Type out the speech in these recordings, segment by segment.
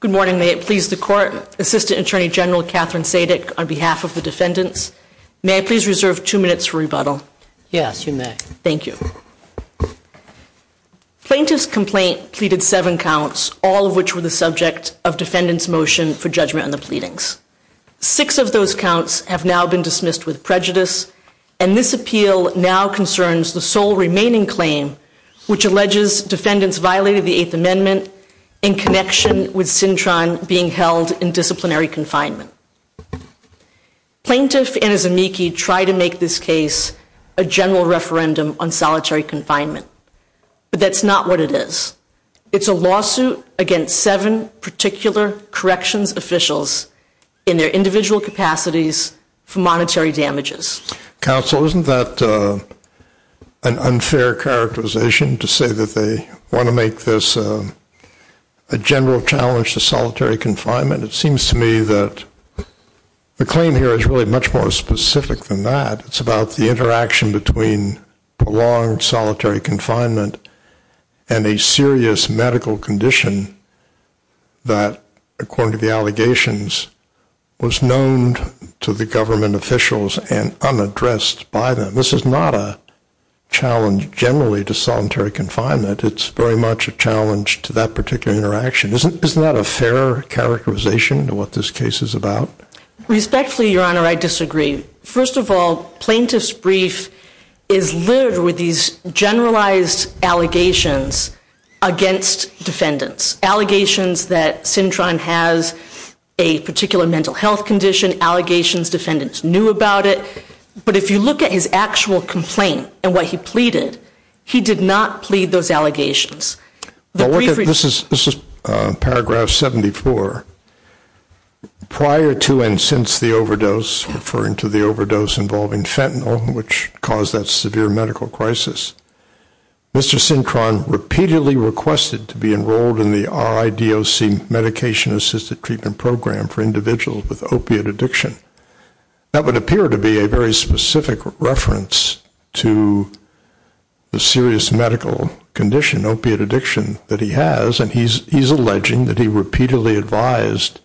Good morning. May it please the Court, Assistant Attorney General Katherine Sadik, on behalf of the defendants, may I please reserve two minutes for rebuttal? Yes, you may. Thank you. Plaintiff's complaint pleaded seven counts, all of which were the subject of defendants' motion for judgment on the pleadings. Six of those counts have now been dismissed with prejudice, and this appeal now concerns the sole remaining claim, which alleges defendants violated the Eighth Amendment in connection with Cintron being held in disciplinary confinement. Plaintiff and his amici try to make this case a general referendum on solitary confinement, but that's not what it is. It's a lawsuit against seven particular corrections officials in their individual capacities for monetary damages. Counsel, isn't that an unfair characterization to say that they want to make this a general challenge to solitary confinement? It seems to me that the claim here is really much more specific than that. It's about the interaction between prolonged solitary confinement and a serious medical condition that, according to the allegations, was known to the government officials and unaddressed by them. This is not a challenge generally to solitary confinement. It's very much a challenge to that particular interaction. Isn't that a fair characterization to what this case is about? Respectfully, Your Honor, I disagree. First of all, Plaintiff's brief is littered with these generalized allegations against defendants, allegations that Cintron has a particular mental health condition, allegations defendants knew about it. But if you look at his actual complaint and what he pleaded, he did not plead those allegations. This is paragraph 74. Prior to and since the overdose, referring to the overdose involving fentanyl, which caused that severe medical crisis, Mr. Cintron repeatedly requested to be enrolled in the RIDOC medication-assisted treatment program for individuals with opiate addiction. That would appear to be a very specific reference to the serious medical condition, opiate addiction, that he has, and he's alleging that he repeatedly advised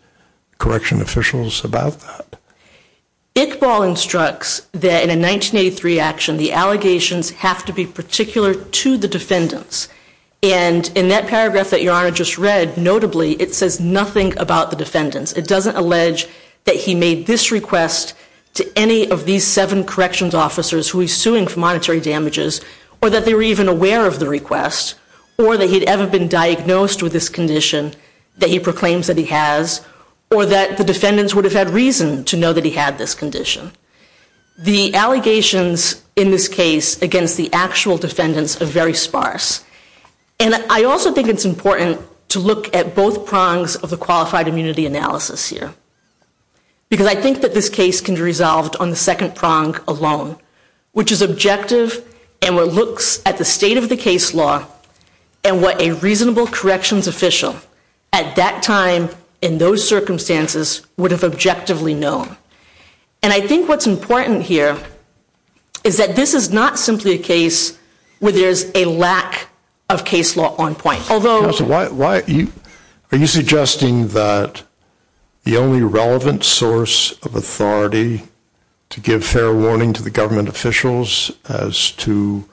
correction officials about that. Iqbal instructs that in a 1983 action, the allegations have to be particular to the defendants. And in that paragraph that Your Honor just read, notably, it says nothing about the defendants. It doesn't allege that he made this request to any of these seven corrections officers who he's suing for monetary damages, or that they were even aware of the request, or that he'd ever been diagnosed with this condition that he proclaims that he has, or that the defendants would have had reason to know that he had this condition. The allegations in this case against the actual defendants are very sparse. And I also think it's important to look at both prongs of the qualified immunity analysis here, because I think that this case can be resolved on the second prong alone, which is objective and what looks at the state of the case law and what a reasonable corrections official at that time, in those circumstances, would have objectively known. And I think what's important here is that this is not simply a case where there's a lack of case law on point. Although... Why are you suggesting that the only relevant source of authority to give fair warning to the government officials as to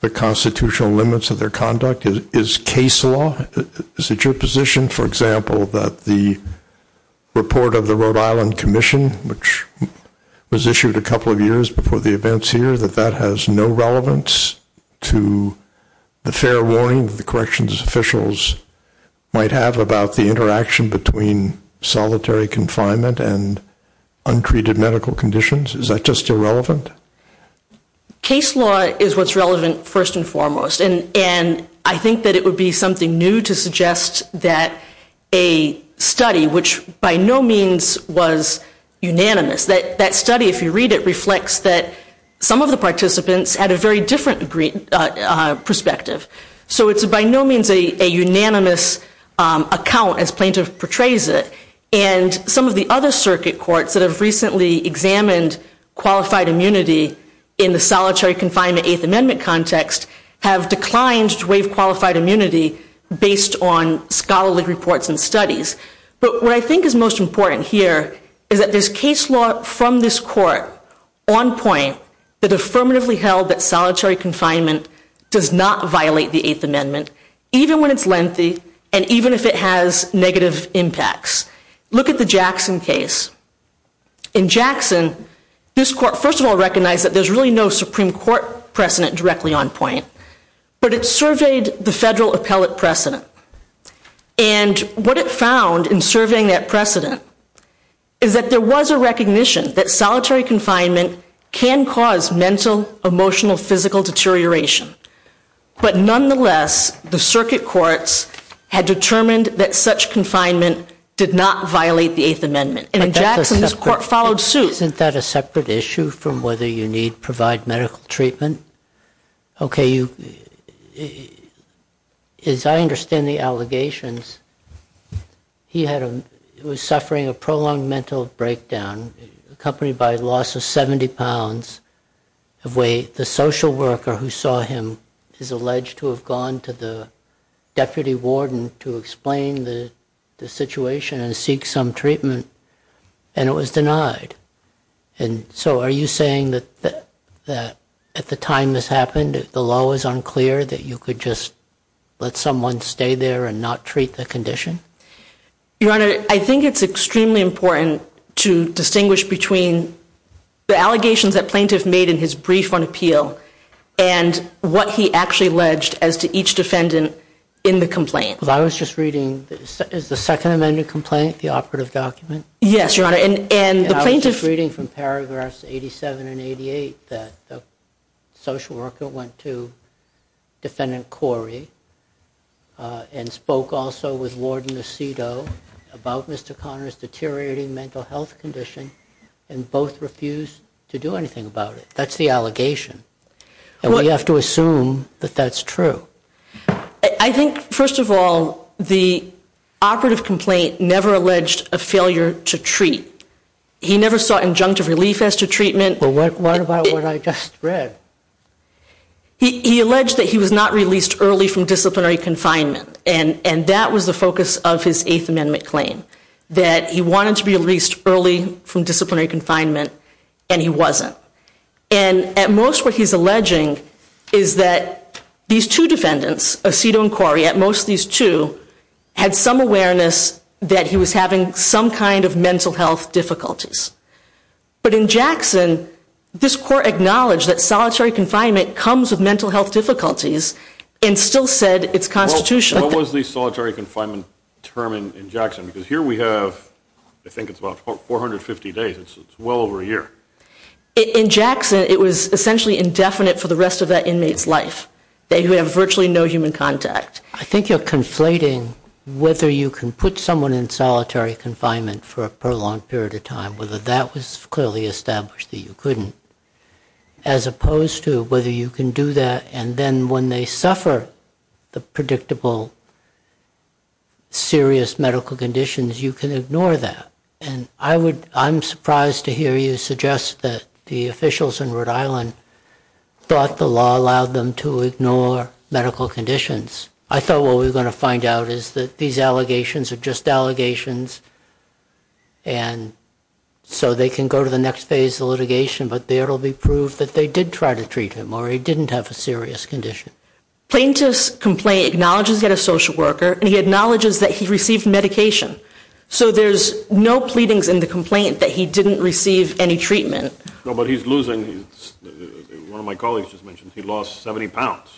the constitutional limits of their conduct is case law? Is it your position, for example, that the report of the Rhode Island Commission, which was issued a couple of years before the events here, that that has no relevance to the fair warning the corrections officials might have about the interaction between solitary confinement and untreated medical conditions? Is that just irrelevant? Case law is what's relevant first and foremost. And I think that it would be something new to suggest that a study, which by no means was unanimous, that study, if you read it, reflects that some of the participants had a very different perspective. So it's by no means a unanimous account as plaintiff portrays it. And some of the other circuit courts that have recently examined qualified immunity in the solitary confinement Eighth Amendment context have declined to waive qualified immunity based on scholarly reports and studies. But what I think is most important here is that there's case law from this court on point that affirmatively held that solitary confinement does not violate the Eighth Amendment, even when it's lengthy and even if it has negative impacts. Look at the Jackson case. In Jackson, this court first of all recognized that there's really no Supreme Court precedent directly on point, but it surveyed the federal appellate precedent. And what it found in surveying that precedent is that there was a recognition that solitary confinement can cause mental, emotional, physical deterioration. But nonetheless, the circuit courts had determined that such confinement did not violate the Eighth Amendment. And in Jackson, this court followed suit. Isn't that a separate issue from whether you need to provide medical treatment? Okay, as I understand the allegations, he was suffering a prolonged mental breakdown accompanied by loss of 70 pounds of weight. The social worker who saw him is alleged to have gone to the deputy warden to explain the situation and seek some treatment, and it was denied. And so are you saying that at the time this happened, the law was unclear, that you could just let someone stay there and not treat the condition? Your Honor, I think it's extremely important to distinguish between the allegations that plaintiff made in his brief on appeal and what he actually alleged as to each defendant in the complaint. Well, I was just reading, is the Second Amendment complaint the operative document? Yes, Your Honor, and the plaintiff- And I was just reading from paragraphs 87 and 88 that the social worker went to Defendant Corey and spoke also with Warden Aceto about Mr. Conner's deteriorating mental health condition and both refused to do anything about it. That's the allegation, and we have to assume that that's true. I think, first of all, the operative complaint never alleged a failure to treat. He never sought injunctive relief as to treatment. Well, what about what I just read? He alleged that he was not released early from disciplinary confinement, and that was the focus of his Eighth Amendment claim, that he wanted to be released early from disciplinary confinement, and he wasn't. And at most what he's alleging is that these two defendants, Aceto and Corey, at most these two had some awareness that he was having some kind of mental health difficulties. But in Jackson, this court acknowledged that solitary confinement comes with mental health difficulties and still said it's constitutional. What was the solitary confinement term in Jackson? Because here we have, I think it's about 450 days. It's well over a year. In Jackson, it was essentially indefinite for the rest of that inmate's life. They have virtually no human contact. I think you're conflating whether you can put someone in solitary confinement for a prolonged period of time, whether that was clearly established that you couldn't, as opposed to whether you can do that and then when they suffer the predictable serious medical conditions, you can ignore that. And I'm surprised to hear you suggest that the officials in Rhode Island thought the law allowed them to ignore medical conditions. I thought what we were going to find out is that these allegations are just allegations and so they can go to the next phase of litigation, but there will be proof that they did try to treat him or he didn't have a serious condition. Plaintiff's complaint acknowledges he had a social worker and he acknowledges that he received medication. So there's no pleadings in the complaint that he didn't receive any treatment. No, but he's losing. One of my colleagues just mentioned he lost 70 pounds.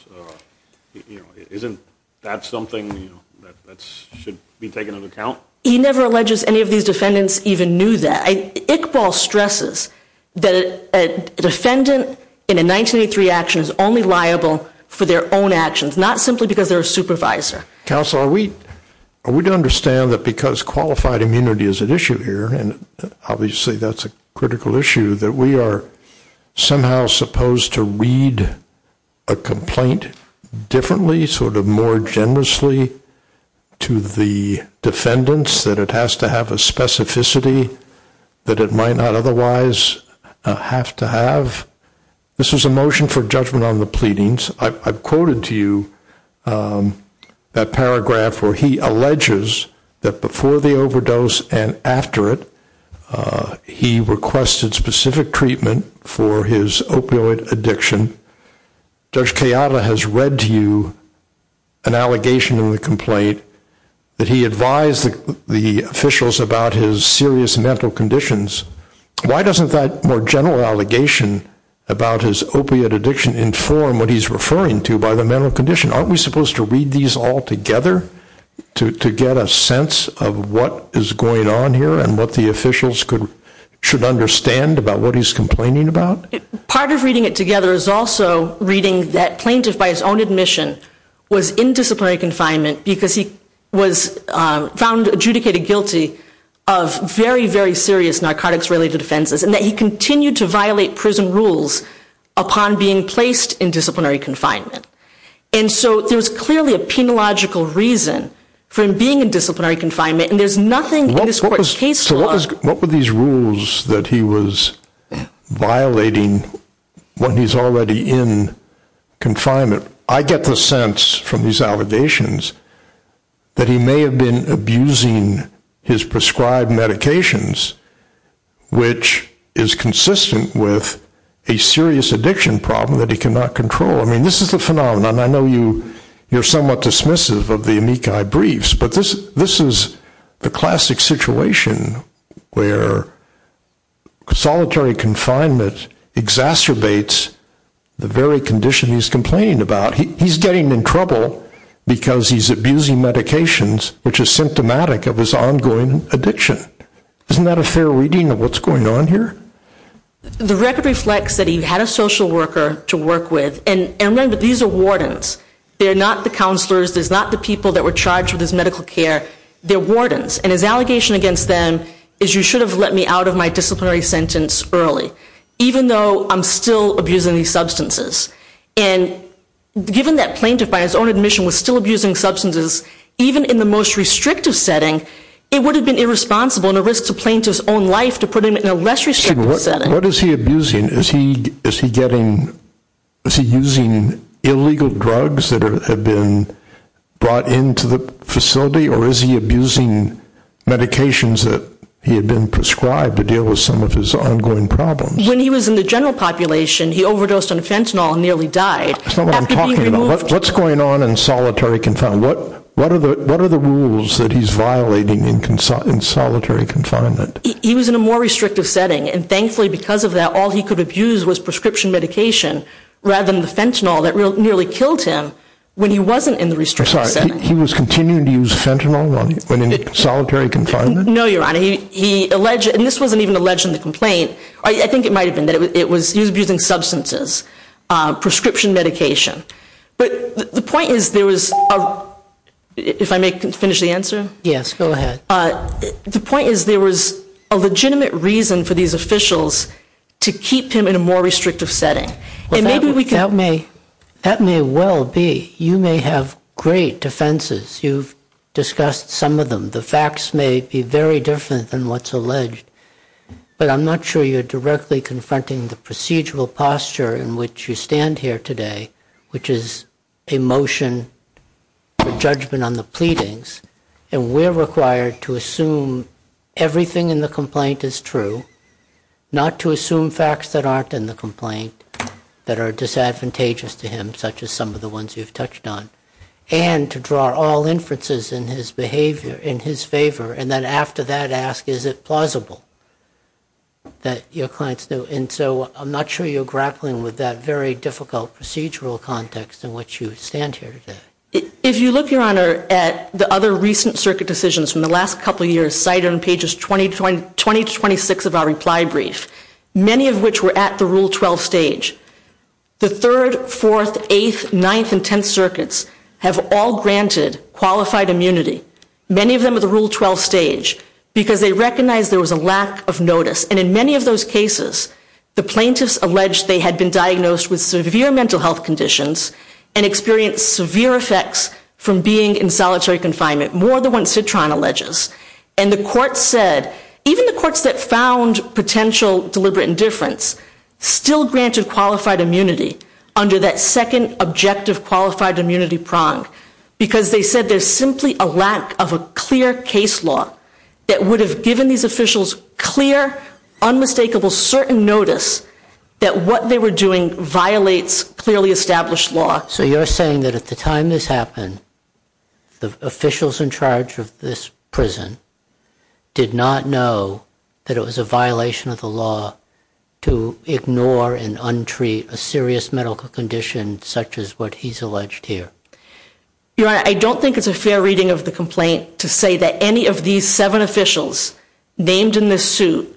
Isn't that something that should be taken into account? He never alleges any of these defendants even knew that. Iqbal stresses that a defendant in a 1983 action is only liable for their own actions, not simply because they're a supervisor. Counsel, are we to understand that because qualified immunity is at issue here, and obviously that's a critical issue, that we are somehow supposed to read a complaint differently, sort of more generously to the defendants, that it has to have a specificity that it might not otherwise have to have? This is a motion for judgment on the pleadings. I've quoted to you that paragraph where he alleges that before the overdose and after it he requested specific treatment for his opioid addiction. Judge Kayala has read to you an allegation in the complaint that he advised the officials about his serious mental conditions. Why doesn't that more general allegation about his opiate addiction inform what he's referring to by the mental condition? Aren't we supposed to read these all together to get a sense of what is going on here and what the officials should understand about what he's complaining about? Part of reading it together is also reading that plaintiff by his own admission was in disciplinary confinement because he was found adjudicated guilty of very, very serious narcotics-related offenses and that he continued to violate prison rules upon being placed in disciplinary confinement. And so there's clearly a penological reason for him being in disciplinary confinement, What were these rules that he was violating when he's already in confinement? I get the sense from these allegations that he may have been abusing his prescribed medications, which is consistent with a serious addiction problem that he cannot control. I mean, this is the phenomenon. I know you're somewhat dismissive of the amici briefs, but this is the classic situation where solitary confinement exacerbates the very condition he's complaining about. He's getting in trouble because he's abusing medications, which is symptomatic of his ongoing addiction. Isn't that a fair reading of what's going on here? The record reflects that he had a social worker to work with, and remember, these are wardens. They're not the counselors. They're not the people that were charged with his medical care. They're wardens, and his allegation against them is, you should have let me out of my disciplinary sentence early, even though I'm still abusing these substances. And given that plaintiff, by his own admission, was still abusing substances, even in the most restrictive setting, it would have been irresponsible and a risk to plaintiff's own life to put him in a less restrictive setting. What is he abusing? Is he using illegal drugs that have been brought into the facility, or is he abusing medications that he had been prescribed to deal with some of his ongoing problems? When he was in the general population, he overdosed on fentanyl and nearly died. That's not what I'm talking about. What's going on in solitary confinement? What are the rules that he's violating in solitary confinement? He was in a more restrictive setting, and thankfully because of that all he could abuse was prescription medication rather than the fentanyl that nearly killed him when he wasn't in the restrictive setting. I'm sorry. He was continuing to use fentanyl when in solitary confinement? No, Your Honor. He alleged, and this wasn't even alleged in the complaint. I think it might have been that he was abusing substances, prescription medication. But the point is there was, if I may finish the answer? Yes, go ahead. The point is there was a legitimate reason for these officials to keep him in a more restrictive setting. That may well be. You may have great defenses. You've discussed some of them. The facts may be very different than what's alleged, but I'm not sure you're directly confronting the procedural posture in which you stand here today, which is a motion for judgment on the pleadings, and we're required to assume everything in the complaint is true, not to assume facts that aren't in the complaint that are disadvantageous to him, such as some of the ones you've touched on, and to draw all inferences in his favor and then after that ask, is it plausible that your clients knew? And so I'm not sure you're grappling with that very difficult procedural context in which you stand here today. If you look, Your Honor, at the other recent circuit decisions from the last couple of years cited on pages 20 to 26 of our reply brief, many of which were at the Rule 12 stage, the 3rd, 4th, 8th, 9th, and 10th circuits have all granted qualified immunity, many of them at the Rule 12 stage, because they recognized there was a lack of notice. And in many of those cases, the plaintiffs alleged they had been diagnosed with severe mental health conditions and experienced severe effects from being in solitary confinement, more than what Citron alleges. And the courts said, even the courts that found potential deliberate indifference, still granted qualified immunity under that second objective qualified immunity prong, because they said there's simply a lack of a clear case law that would have given these officials clear, unmistakable, certain notice that what they were doing violates clearly established law. So you're saying that at the time this happened, the officials in charge of this prison did not know that it was a violation of the law to ignore and untreat a serious medical condition such as what he's alleged here. Your Honor, I don't think it's a fair reading of the complaint to say that any of these seven officials named in this suit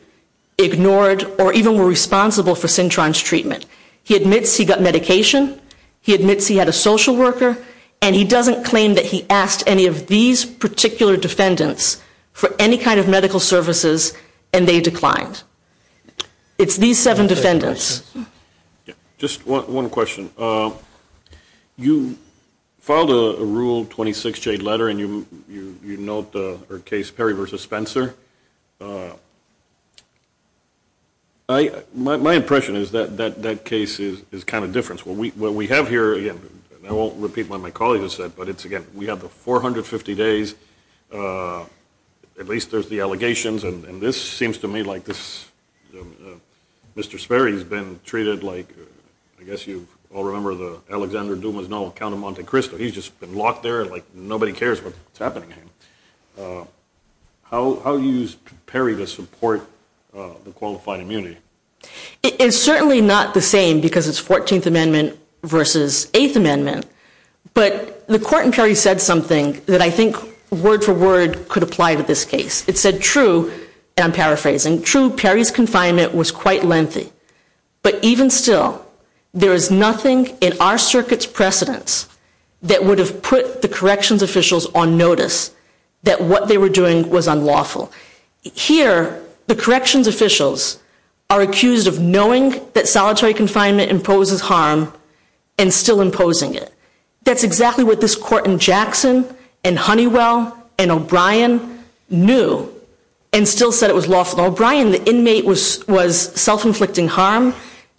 ignored or even were responsible for Citron's treatment. He admits he got medication. He admits he had a social worker. And he doesn't claim that he asked any of these particular defendants for any kind of medical services, and they declined. It's these seven defendants. Just one question. You filed a Rule 26J letter, and you note the case Perry v. Spencer. My impression is that that case is kind of different. What we have here, again, I won't repeat what my colleague has said, but it's, again, we have the 450 days. At least there's the allegations, and this seems to me like this. Mr. Sperry has been treated like I guess you all remember the Alexander Dumas novel Count of Monte Cristo. He's just been locked there like nobody cares what's happening. How do you use Perry to support the qualified immunity? It's certainly not the same because it's 14th Amendment v. 8th Amendment. But the court in Perry said something that I think word for word could apply to this case. It said, true, and I'm paraphrasing, true, Perry's confinement was quite lengthy. But even still, there is nothing in our circuit's precedence that would have put the corrections officials on notice that what they were doing was unlawful. Here, the corrections officials are accused of knowing that solitary confinement imposes harm and still imposing it. That's exactly what this court in Jackson and Honeywell and O'Brien knew and still said it was lawful. In O'Brien, the inmate was self-inflicting harm,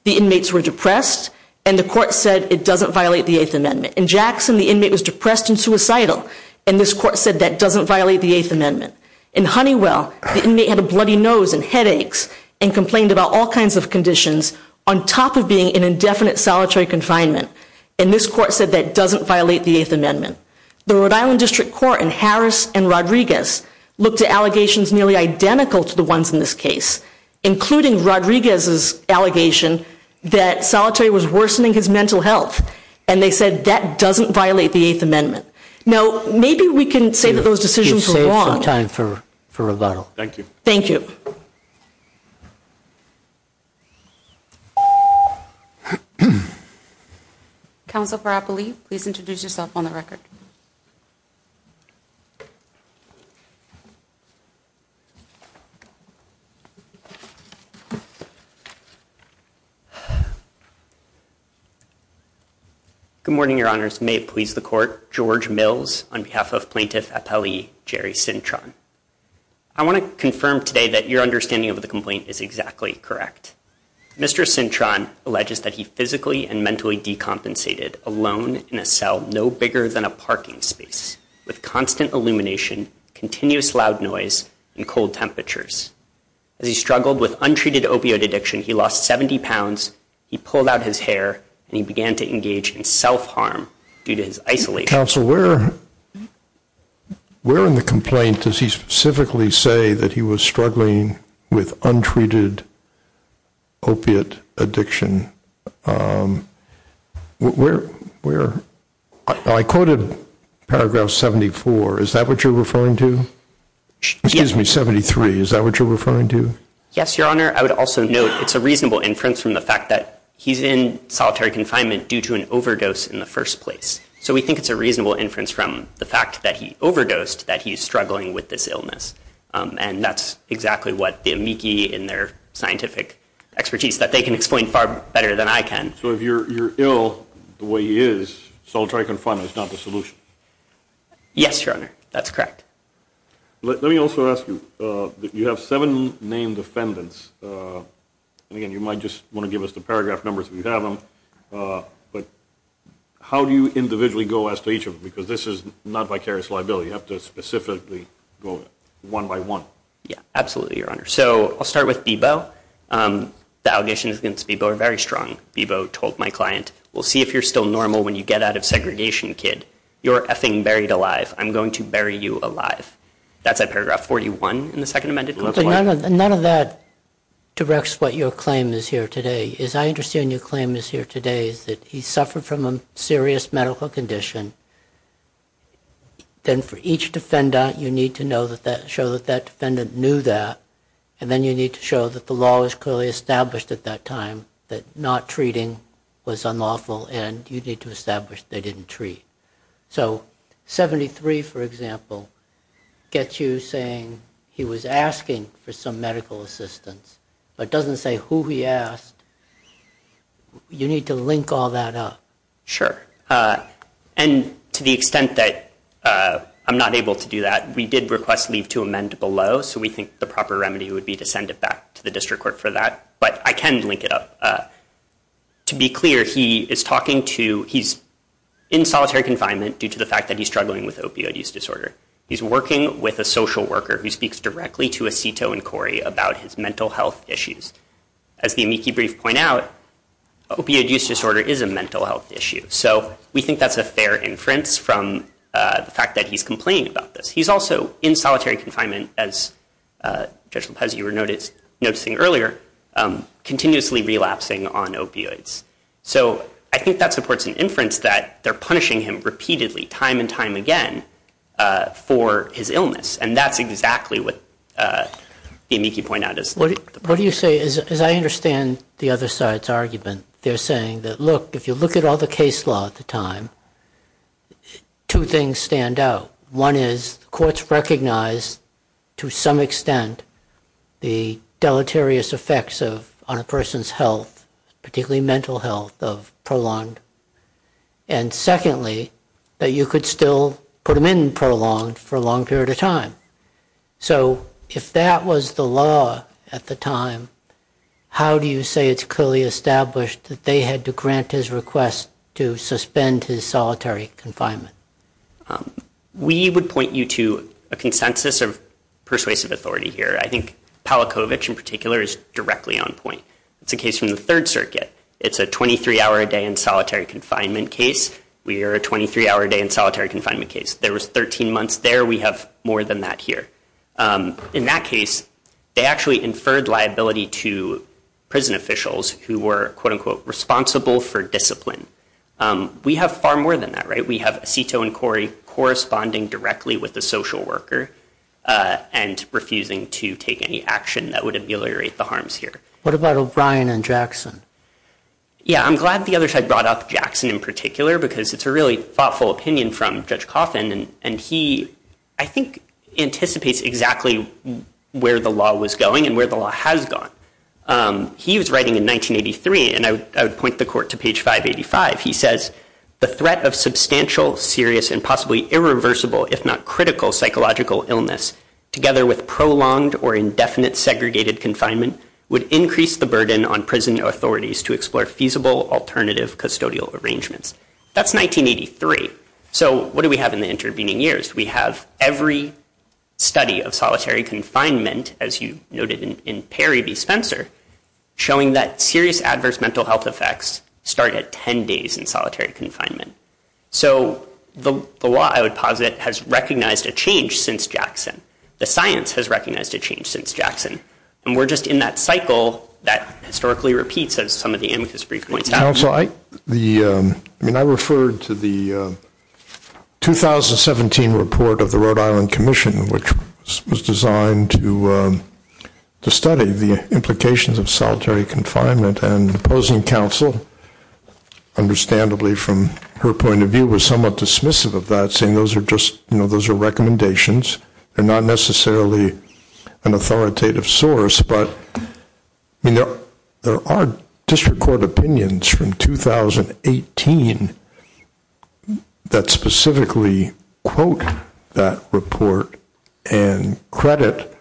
the inmates were depressed, and the court said it doesn't violate the 8th Amendment. In Jackson, the inmate was depressed and suicidal, and this court said that doesn't violate the 8th Amendment. In Honeywell, the inmate had a bloody nose and headaches and complained about all kinds of conditions on top of being in indefinite solitary confinement, and this court said that doesn't violate the 8th Amendment. The Rhode Island District Court in Harris and Rodriguez looked at including Rodriguez's allegation that solitary was worsening his mental health, and they said that doesn't violate the 8th Amendment. Now, maybe we can say that those decisions were wrong. You've saved some time for rebuttal. Thank you. Thank you. Thank you. Counsel Brappley, please introduce yourself on the record. Good morning, Your Honors. May it please the Court. George Mills on behalf of Plaintiff Appellee Jerry Cintron. I want to confirm today that your understanding of the complaint is exactly correct. Mr. Cintron alleges that he physically and mentally decompensated alone in a cell no bigger than a parking space with constant illumination, continuous loud noise, and cold temperatures. As he struggled with untreated opioid addiction, he lost 70 pounds, he pulled out his hair, and he began to engage in self-harm due to his isolation. Counsel, where in the complaint does he specifically say that he was struggling with untreated opiate addiction? Where? I quoted paragraph 74. Is that what you're referring to? Excuse me, 73. Is that what you're referring to? Yes, Your Honor. I would also note it's a reasonable inference from the fact that he's in solitary confinement due to an overdose in the first place. So we think it's a reasonable inference from the fact that he overdosed that he's struggling with this illness. And that's exactly what the amici in their scientific expertise that they can explain far better than I can. So if you're ill the way he is, solitary confinement is not the solution? Yes, Your Honor. That's correct. Let me also ask you. You have seven named defendants. And again, you might just want to give us the paragraph numbers if you have them. But how do you individually go as to each of them? Because this is not vicarious liability. You have to specifically go one by one. Yeah, absolutely, Your Honor. So I'll start with Bebo. The allegations against Bebo are very strong. Bebo told my client, we'll see if you're still normal when you get out of segregation, kid. You're effing buried alive. I'm going to bury you alive. That's at paragraph 41 in the second amended complaint. None of that directs what your claim is here today. What I see is I understand your claim is here today is that he suffered from a serious medical condition. Then for each defendant, you need to show that that defendant knew that. And then you need to show that the law was clearly established at that time that not treating was unlawful. And you need to establish they didn't treat. So 73, for example, gets you saying he was asking for some medical assistance. But it doesn't say who he asked. You need to link all that up. Sure. And to the extent that I'm not able to do that, we did request leave to amend below. So we think the proper remedy would be to send it back to the district court for that. But I can link it up. To be clear, he is talking to he's in solitary confinement due to the fact that he's struggling with opioid use disorder. He's working with a social worker who speaks directly to Aceto and Corey about his mental health issues. As the amici brief point out, opioid use disorder is a mental health issue. So we think that's a fair inference from the fact that he's complaining about this. He's also in solitary confinement, as Judge Lopez, you were noticing earlier, continuously relapsing on opioids. So I think that supports an inference that they're punishing him repeatedly, time and time again, for his illness. And that's exactly what the amici point out. What do you say? As I understand the other side's argument, they're saying that, look, if you look at all the case law at the time, two things stand out. One is courts recognize to some extent the deleterious effects on a person's health, particularly mental health, of Prolonged. And secondly, that you could still put him in Prolonged for a long period of time. So if that was the law at the time, how do you say it's clearly established that they had to grant his request to suspend his solitary confinement? We would point you to a consensus of persuasive authority here. I think Palachowicz, in particular, is directly on point. It's a case from the Third Circuit. It's a 23-hour-a-day in solitary confinement case. We are a 23-hour-a-day in solitary confinement case. There was 13 months there. We have more than that here. In that case, they actually inferred liability to prison officials who were, quote, unquote, responsible for discipline. We have far more than that, right? We have Aceto and Corey corresponding directly with the social worker and refusing to take any action that would ameliorate the harms here. What about O'Brien and Jackson? Yeah, I'm glad the other side brought up Jackson in particular because it's a really thoughtful opinion from Judge Coffin. And he, I think, anticipates exactly where the law was going and where the law has gone. He was writing in 1983, and I would point the court to page 585. He says, the threat of substantial, serious, and possibly irreversible, if not critical, psychological illness, together with prolonged or indefinite segregated confinement, would increase the burden on prison authorities to explore feasible alternative custodial arrangements. That's 1983. So what do we have in the intervening years? We have every study of solitary confinement, as you noted in Perry v. Spencer, showing that serious adverse mental health effects start at 10 days in solitary confinement. So the law, I would posit, has recognized a change since Jackson. The science has recognized a change since Jackson. And we're just in that cycle that historically repeats, as some of the amicus brief points have. Counsel, I mean, I referred to the 2017 report of the Rhode Island Commission, which was designed to study the implications of solitary confinement. And the opposing counsel, understandably from her point of view, was somewhat dismissive of that, saying those are just, you know, those are recommendations. They're not necessarily an authoritative source. But, you know, there are district court opinions from 2018 that specifically quote that report and credit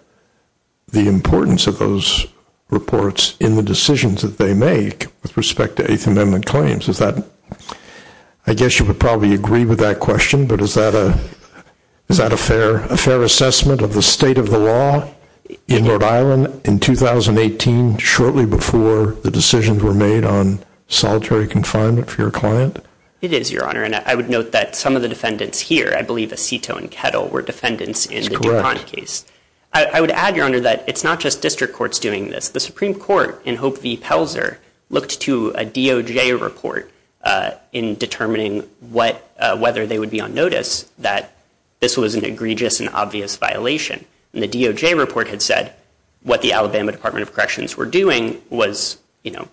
the importance of those reports in the decisions that they make with respect to Eighth Amendment claims. Is that, I guess you would probably agree with that question, but is that a fair assessment of the state of the law in Rhode Island in 2018, shortly before the decisions were made on solitary confinement for your client? It is, Your Honor. And I would note that some of the defendants here, I believe Aceto and Kettle were defendants in the DuPont case. I would add, Your Honor, that it's not just district courts doing this. The Supreme Court in Hope v. Pelzer looked to a DOJ report in determining whether they would be on notice that this was an egregious and obvious violation. And the DOJ report had said what the Alabama Department of Corrections were doing was, you know,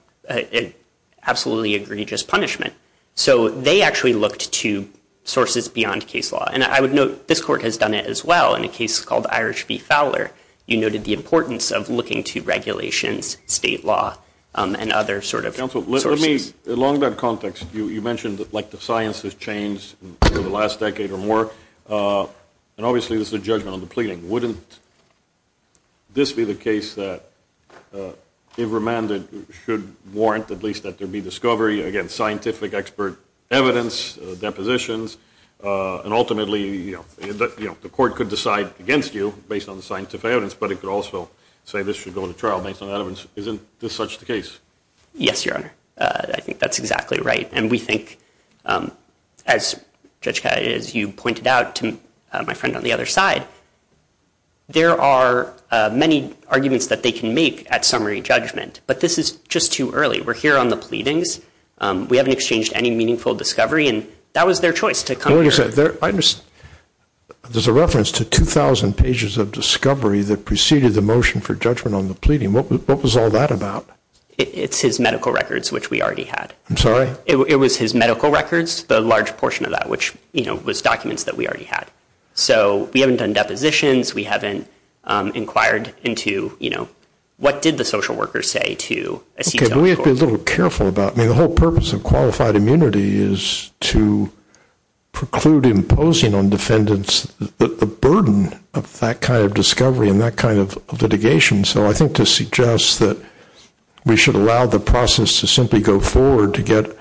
absolutely egregious punishment. So they actually looked to sources beyond case law. And I would note this court has done it as well in a case called Irish v. Fowler. You noted the importance of looking to regulations, state law, and other sort of sources. Counsel, let me, along that context, you mentioned like the science has changed over the last decade or more, and obviously this is a judgment on the pleading. Wouldn't this be the case that if remanded should warrant at least that there be discovery against scientific expert evidence, depositions, and ultimately, you know, the court could decide against you based on the scientific evidence, but it could also say this should go to trial based on that evidence. Isn't this such the case? Yes, Your Honor. I think that's exactly right. And we think, as Judge Catt, as you pointed out to my friend on the other side, there are many arguments that they can make at summary judgment, but this is just too early. We're here on the pleadings. We haven't exchanged any meaningful discovery, and that was their choice to come here. There's a reference to 2,000 pages of discovery that preceded the motion for judgment on the pleading. What was all that about? It's his medical records, which we already had. I'm sorry? It was his medical records, the large portion of that, which, you know, was documents that we already had. So we haven't done depositions. We haven't inquired into, you know, what did the social worker say to a CTO? Okay, but we have to be a little careful about it. I mean, the whole purpose of qualified immunity is to preclude imposing on defendants the burden of that kind of discovery and that kind of litigation. So I think to suggest that we should allow the process to simply go forward to get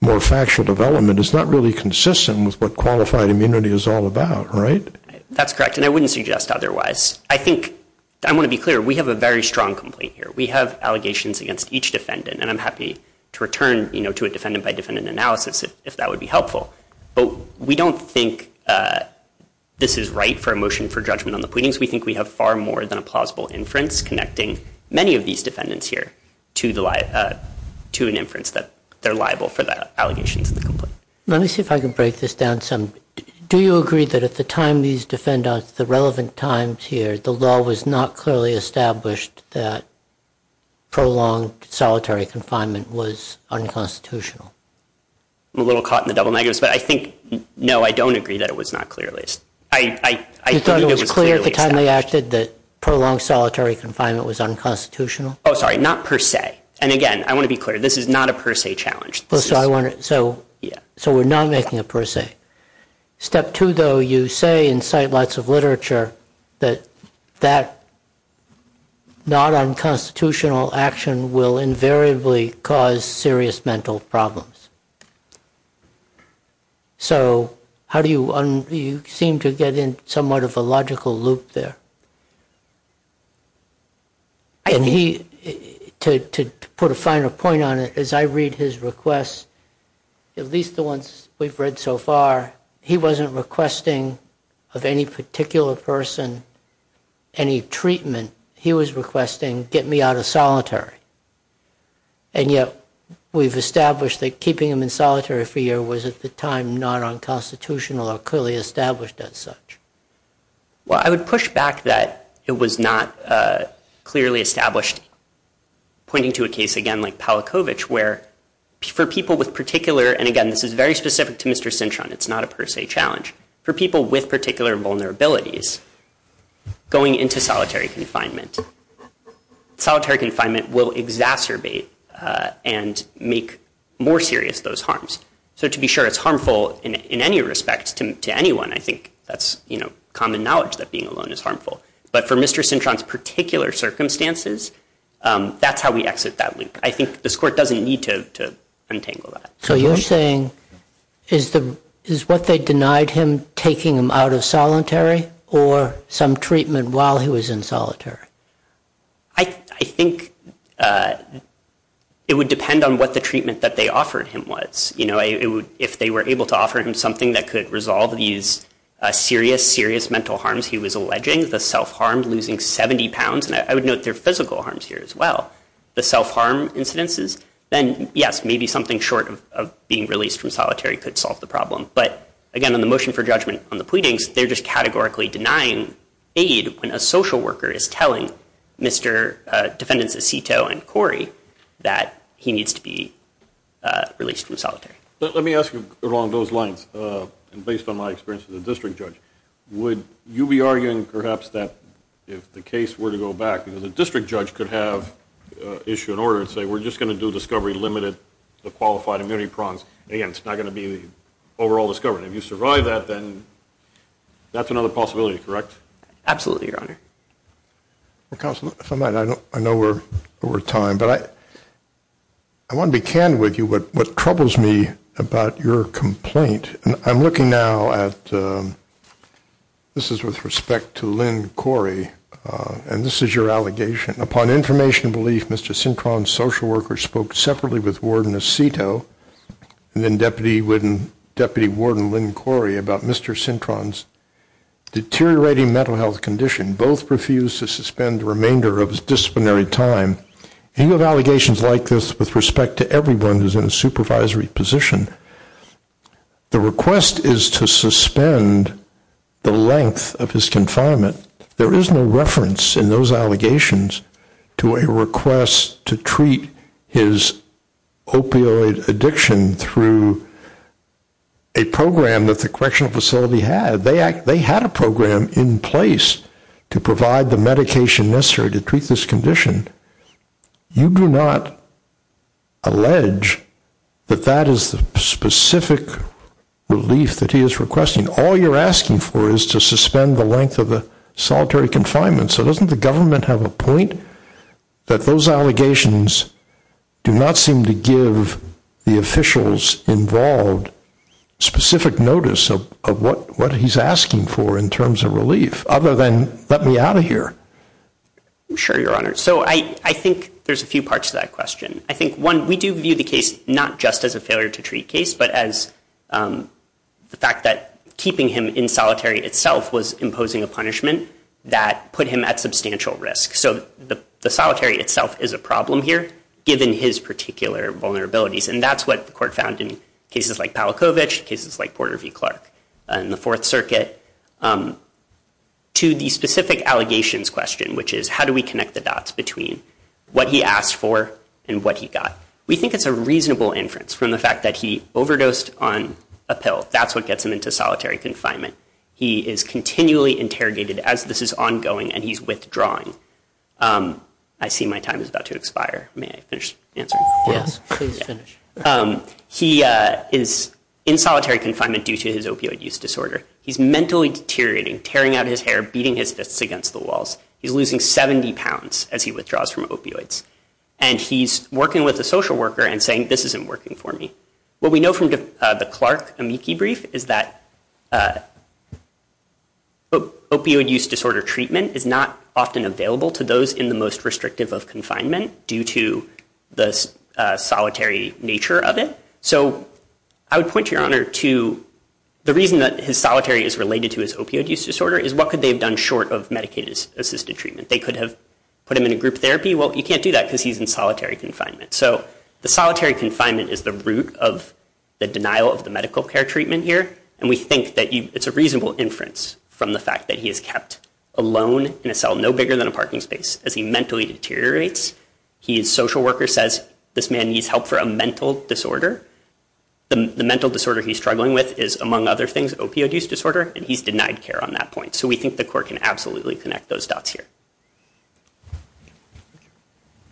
more factual development is not really consistent with what qualified immunity is all about, right? That's correct, and I wouldn't suggest otherwise. I think, I want to be clear, we have a very strong complaint here. We have allegations against each defendant, and I'm happy to return, you know, to a defendant-by-defendant analysis if that would be helpful, but we don't think this is right for a motion for judgment on the pleadings. We think we have far more than a plausible inference connecting many of these defendants here to an inference that they're liable for the allegations in the complaint. Let me see if I can break this down some. Do you agree that at the time these defendants, the relevant times here, the law was not clearly established that prolonged solitary confinement was unconstitutional? I'm a little caught in the double negatives, but I think, no, I don't agree that it was not clearly established. You thought it was clear at the time they acted that prolonged solitary confinement was unconstitutional? Oh, sorry, not per se, and again, I want to be clear, this is not a per se challenge. So we're not making it per se. Step two, though, you say in sightlights of literature that that not unconstitutional action will invariably cause serious mental problems. So you seem to get in somewhat of a logical loop there. To put a finer point on it, as I read his requests, at least the ones we've read so far, he wasn't requesting of any particular person any treatment. He was requesting get me out of solitary. And yet we've established that keeping him in solitary for a year was at the time not unconstitutional or clearly established as such. Well, I would push back that it was not clearly established, pointing to a case, again, like Palachowicz, where for people with particular, and again, this is very specific to Mr. Cintron, it's not a per se challenge. For people with particular vulnerabilities, going into solitary confinement, solitary confinement will exacerbate and make more serious those harms. So to be sure it's harmful in any respect to anyone, I think that's common knowledge that being alone is harmful. But for Mr. Cintron's particular circumstances, that's how we exit that loop. I think this Court doesn't need to untangle that. So you're saying is what they denied him taking him out of solitary or some treatment while he was in solitary? I think it would depend on what the treatment that they offered him was. You know, if they were able to offer him something that could resolve these serious, serious mental harms he was alleging, the self-harm, losing 70 pounds, and I would note there are physical harms here as well, the self-harm incidences, then yes, maybe something short of being released from solitary could solve the problem. But again, in the motion for judgment on the pleadings, they're just categorically denying aid when a social worker is telling Mr. Defendants Aceto and Corey that he needs to be released from solitary. Let me ask you along those lines, and based on my experience as a district judge, would you be arguing perhaps that if the case were to go back, the district judge could have issued an order and say, we're just going to do discovery limited to qualified immunity prongs. Again, it's not going to be the overall discovery. If you survive that, then that's another possibility, correct? Absolutely, Your Honor. Counsel, if I might, I know we're over time, but I want to be candid with you. What troubles me about your complaint, and I'm looking now at, this is with respect to Lynn Corey, and this is your allegation. Upon information and belief, Mr. Sintron's social worker spoke separately with Warden Aceto and then Deputy Warden Lynn Corey about Mr. Sintron's deteriorating mental health condition. Both refused to suspend the remainder of his disciplinary time. You have allegations like this with respect to everyone who's in a supervisory position. The request is to suspend the length of his confinement. There is no reference in those allegations to a request to treat his opioid addiction through a program that the correctional facility had. They had a program in place to provide the medication necessary to treat this condition. You do not allege that that is the specific relief that he is requesting. All you're asking for is to suspend the length of the solitary confinement. So doesn't the government have a point that those allegations do not seem to give the officials involved specific notice of what he's asking for in terms of relief, other than let me out of here? Sure, Your Honor. So I think there's a few parts to that question. I think, one, we do view the case not just as a failure to treat case, but as the fact that keeping him in solitary itself was imposing a punishment that put him at substantial risk. So the solitary itself is a problem here, given his particular vulnerabilities. And that's what the court found in cases like Pawlikowicz, cases like Porter v. Clark in the Fourth Circuit. To the specific allegations question, which is how do we connect the dots between what he asked for and what he got, we think it's a reasonable inference from the fact that he overdosed on a pill. That's what gets him into solitary confinement. He is continually interrogated as this is ongoing, and he's withdrawing. I see my time is about to expire. May I finish answering? Yes, please finish. He is in solitary confinement due to his opioid use disorder. He's mentally deteriorating, tearing out his hair, beating his fists against the walls. He's losing 70 pounds as he withdraws from opioids. And he's working with a social worker and saying, this isn't working for me. What we know from the Clark amici brief is that opioid use disorder treatment is not often available to those in the most restrictive of confinement due to the solitary nature of it. So I would point your honor to the reason that his solitary is related to his opioid use disorder is what could they have done short of Medicaid-assisted treatment? They could have put him in a group therapy. Well, you can't do that because he's in solitary confinement. So the solitary confinement is the root of the denial of the medical care treatment here. And we think that it's a reasonable inference from the fact that he is kept alone in a cell no bigger than a parking space. As he mentally deteriorates, his social worker says, this man needs help for a mental disorder. The mental disorder he's struggling with is, among other things, opioid use disorder. And he's denied care on that point. So we think the court can absolutely connect those dots here.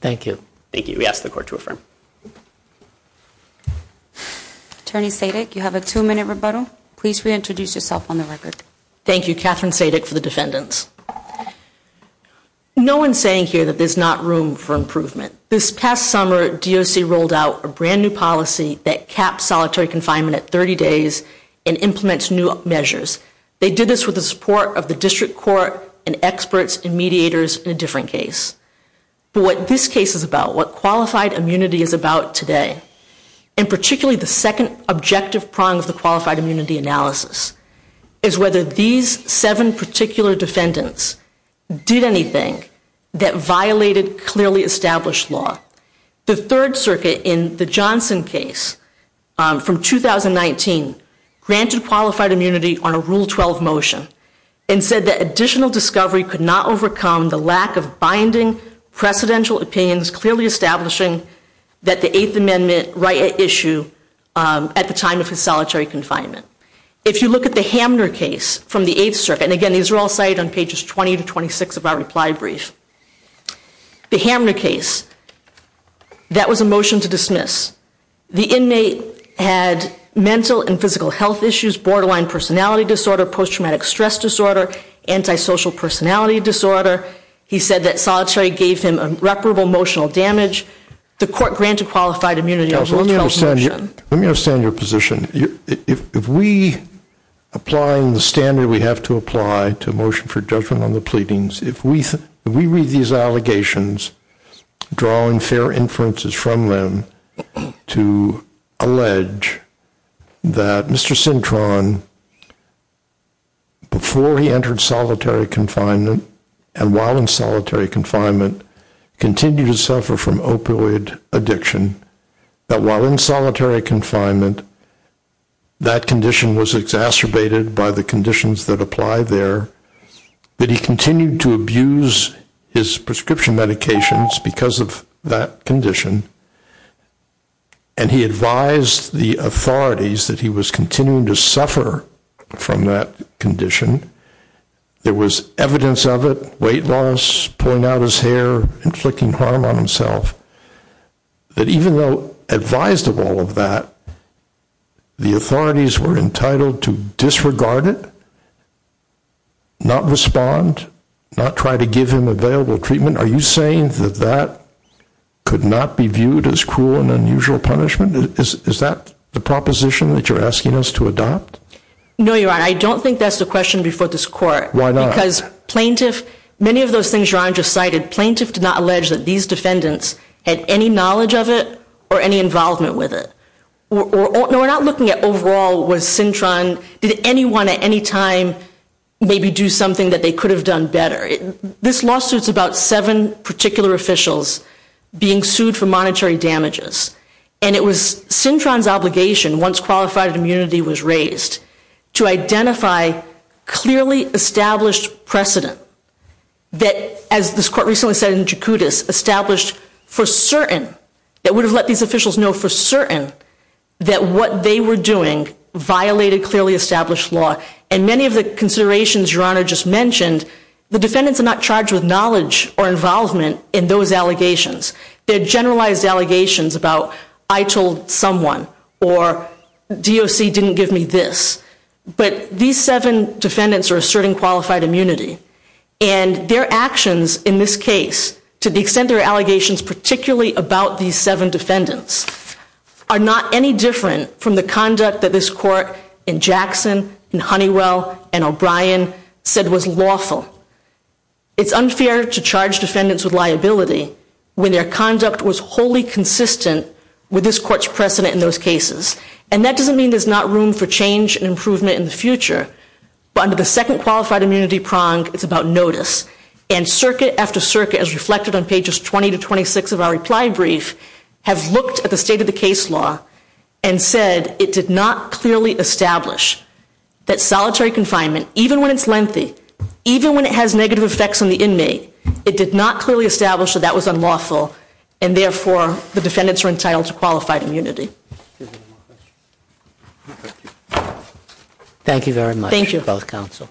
Thank you. Thank you. We ask the court to affirm. Attorney Sadick, you have a two-minute rebuttal. Please reintroduce yourself on the record. Thank you. Catherine Sadick for the defendants. No one's saying here that there's not room for improvement. This past summer, DOC rolled out a brand new policy that caps solitary confinement at 30 days and implements new measures. They did this with the support of the district court and experts and mediators in a different case. But what this case is about, what qualified immunity is about today, and particularly the second objective prong of the qualified immunity analysis, is whether these seven particular defendants did anything that violated clearly established law. The Third Circuit in the Johnson case from 2019 granted qualified immunity on a Rule 12 motion and said that additional discovery could not overcome the lack of binding precedential opinions clearly establishing that the Eighth Amendment right at issue at the time of his solitary confinement. If you look at the Hamner case from the Eighth Circuit, and again, these are all cited on pages 20 to 26 of our reply brief. The Hamner case, that was a motion to dismiss. The inmate had mental and physical health issues, borderline personality disorder, post-traumatic stress disorder, antisocial personality disorder. He said that solitary gave him irreparable emotional damage. The court granted qualified immunity on a Rule 12 motion. Let me understand your position. If we, applying the standard we have to apply to a motion for judgment on the pleadings, if we read these allegations, drawing fair inferences from them, to allege that Mr. Sintron, before he entered solitary confinement, and while in solitary confinement, continued to suffer from opioid addiction, that while in solitary confinement, that condition was exacerbated by the conditions that apply there, that he continued to abuse his prescription medications because of that condition, and he advised the authorities that he was continuing to suffer from that condition, there was evidence of it, weight loss, pulling out his hair, inflicting harm on himself, that even though advised of all of that, the authorities were entitled to disregard it, not respond, not try to give him available treatment? Are you saying that that could not be viewed as cruel and unusual punishment? Is that the proposition that you're asking us to adopt? No, Your Honor. I don't think that's the question before this court. Why not? Because plaintiff, many of those things Your Honor just cited, plaintiff did not allege that these defendants had any knowledge of it or any involvement with it. What we're not looking at overall was Sintron, did anyone at any time maybe do something that they could have done better? This lawsuit's about seven particular officials being sued for monetary damages, and it was Sintron's obligation, once qualified immunity was raised, to identify clearly established precedent that, as this court recently said in Jakutis, established for certain, that would have let these officials know for certain, that what they were doing violated clearly established law. And many of the considerations Your Honor just mentioned, the defendants are not charged with knowledge or involvement in those allegations. They're generalized allegations about I told someone or DOC didn't give me this. But these seven defendants are asserting qualified immunity, and their actions in this case, to the extent there are allegations particularly about these seven defendants, are not any different from the conduct that this court in Jackson, in Honeywell, and O'Brien said was lawful. It's unfair to charge defendants with liability when their conduct was wholly consistent with this court's precedent in those cases. And that doesn't mean there's not room for change and improvement in the future. But under the second qualified immunity prong, it's about notice. And circuit after circuit, as reflected on pages 20 to 26 of our reply brief, have looked at the state of the case law and said it did not clearly establish that solitary confinement, even when it's lengthy, even when it has negative effects on the inmate, it did not clearly establish that that was unlawful. And therefore, the defendants are entitled to qualified immunity. Thank you.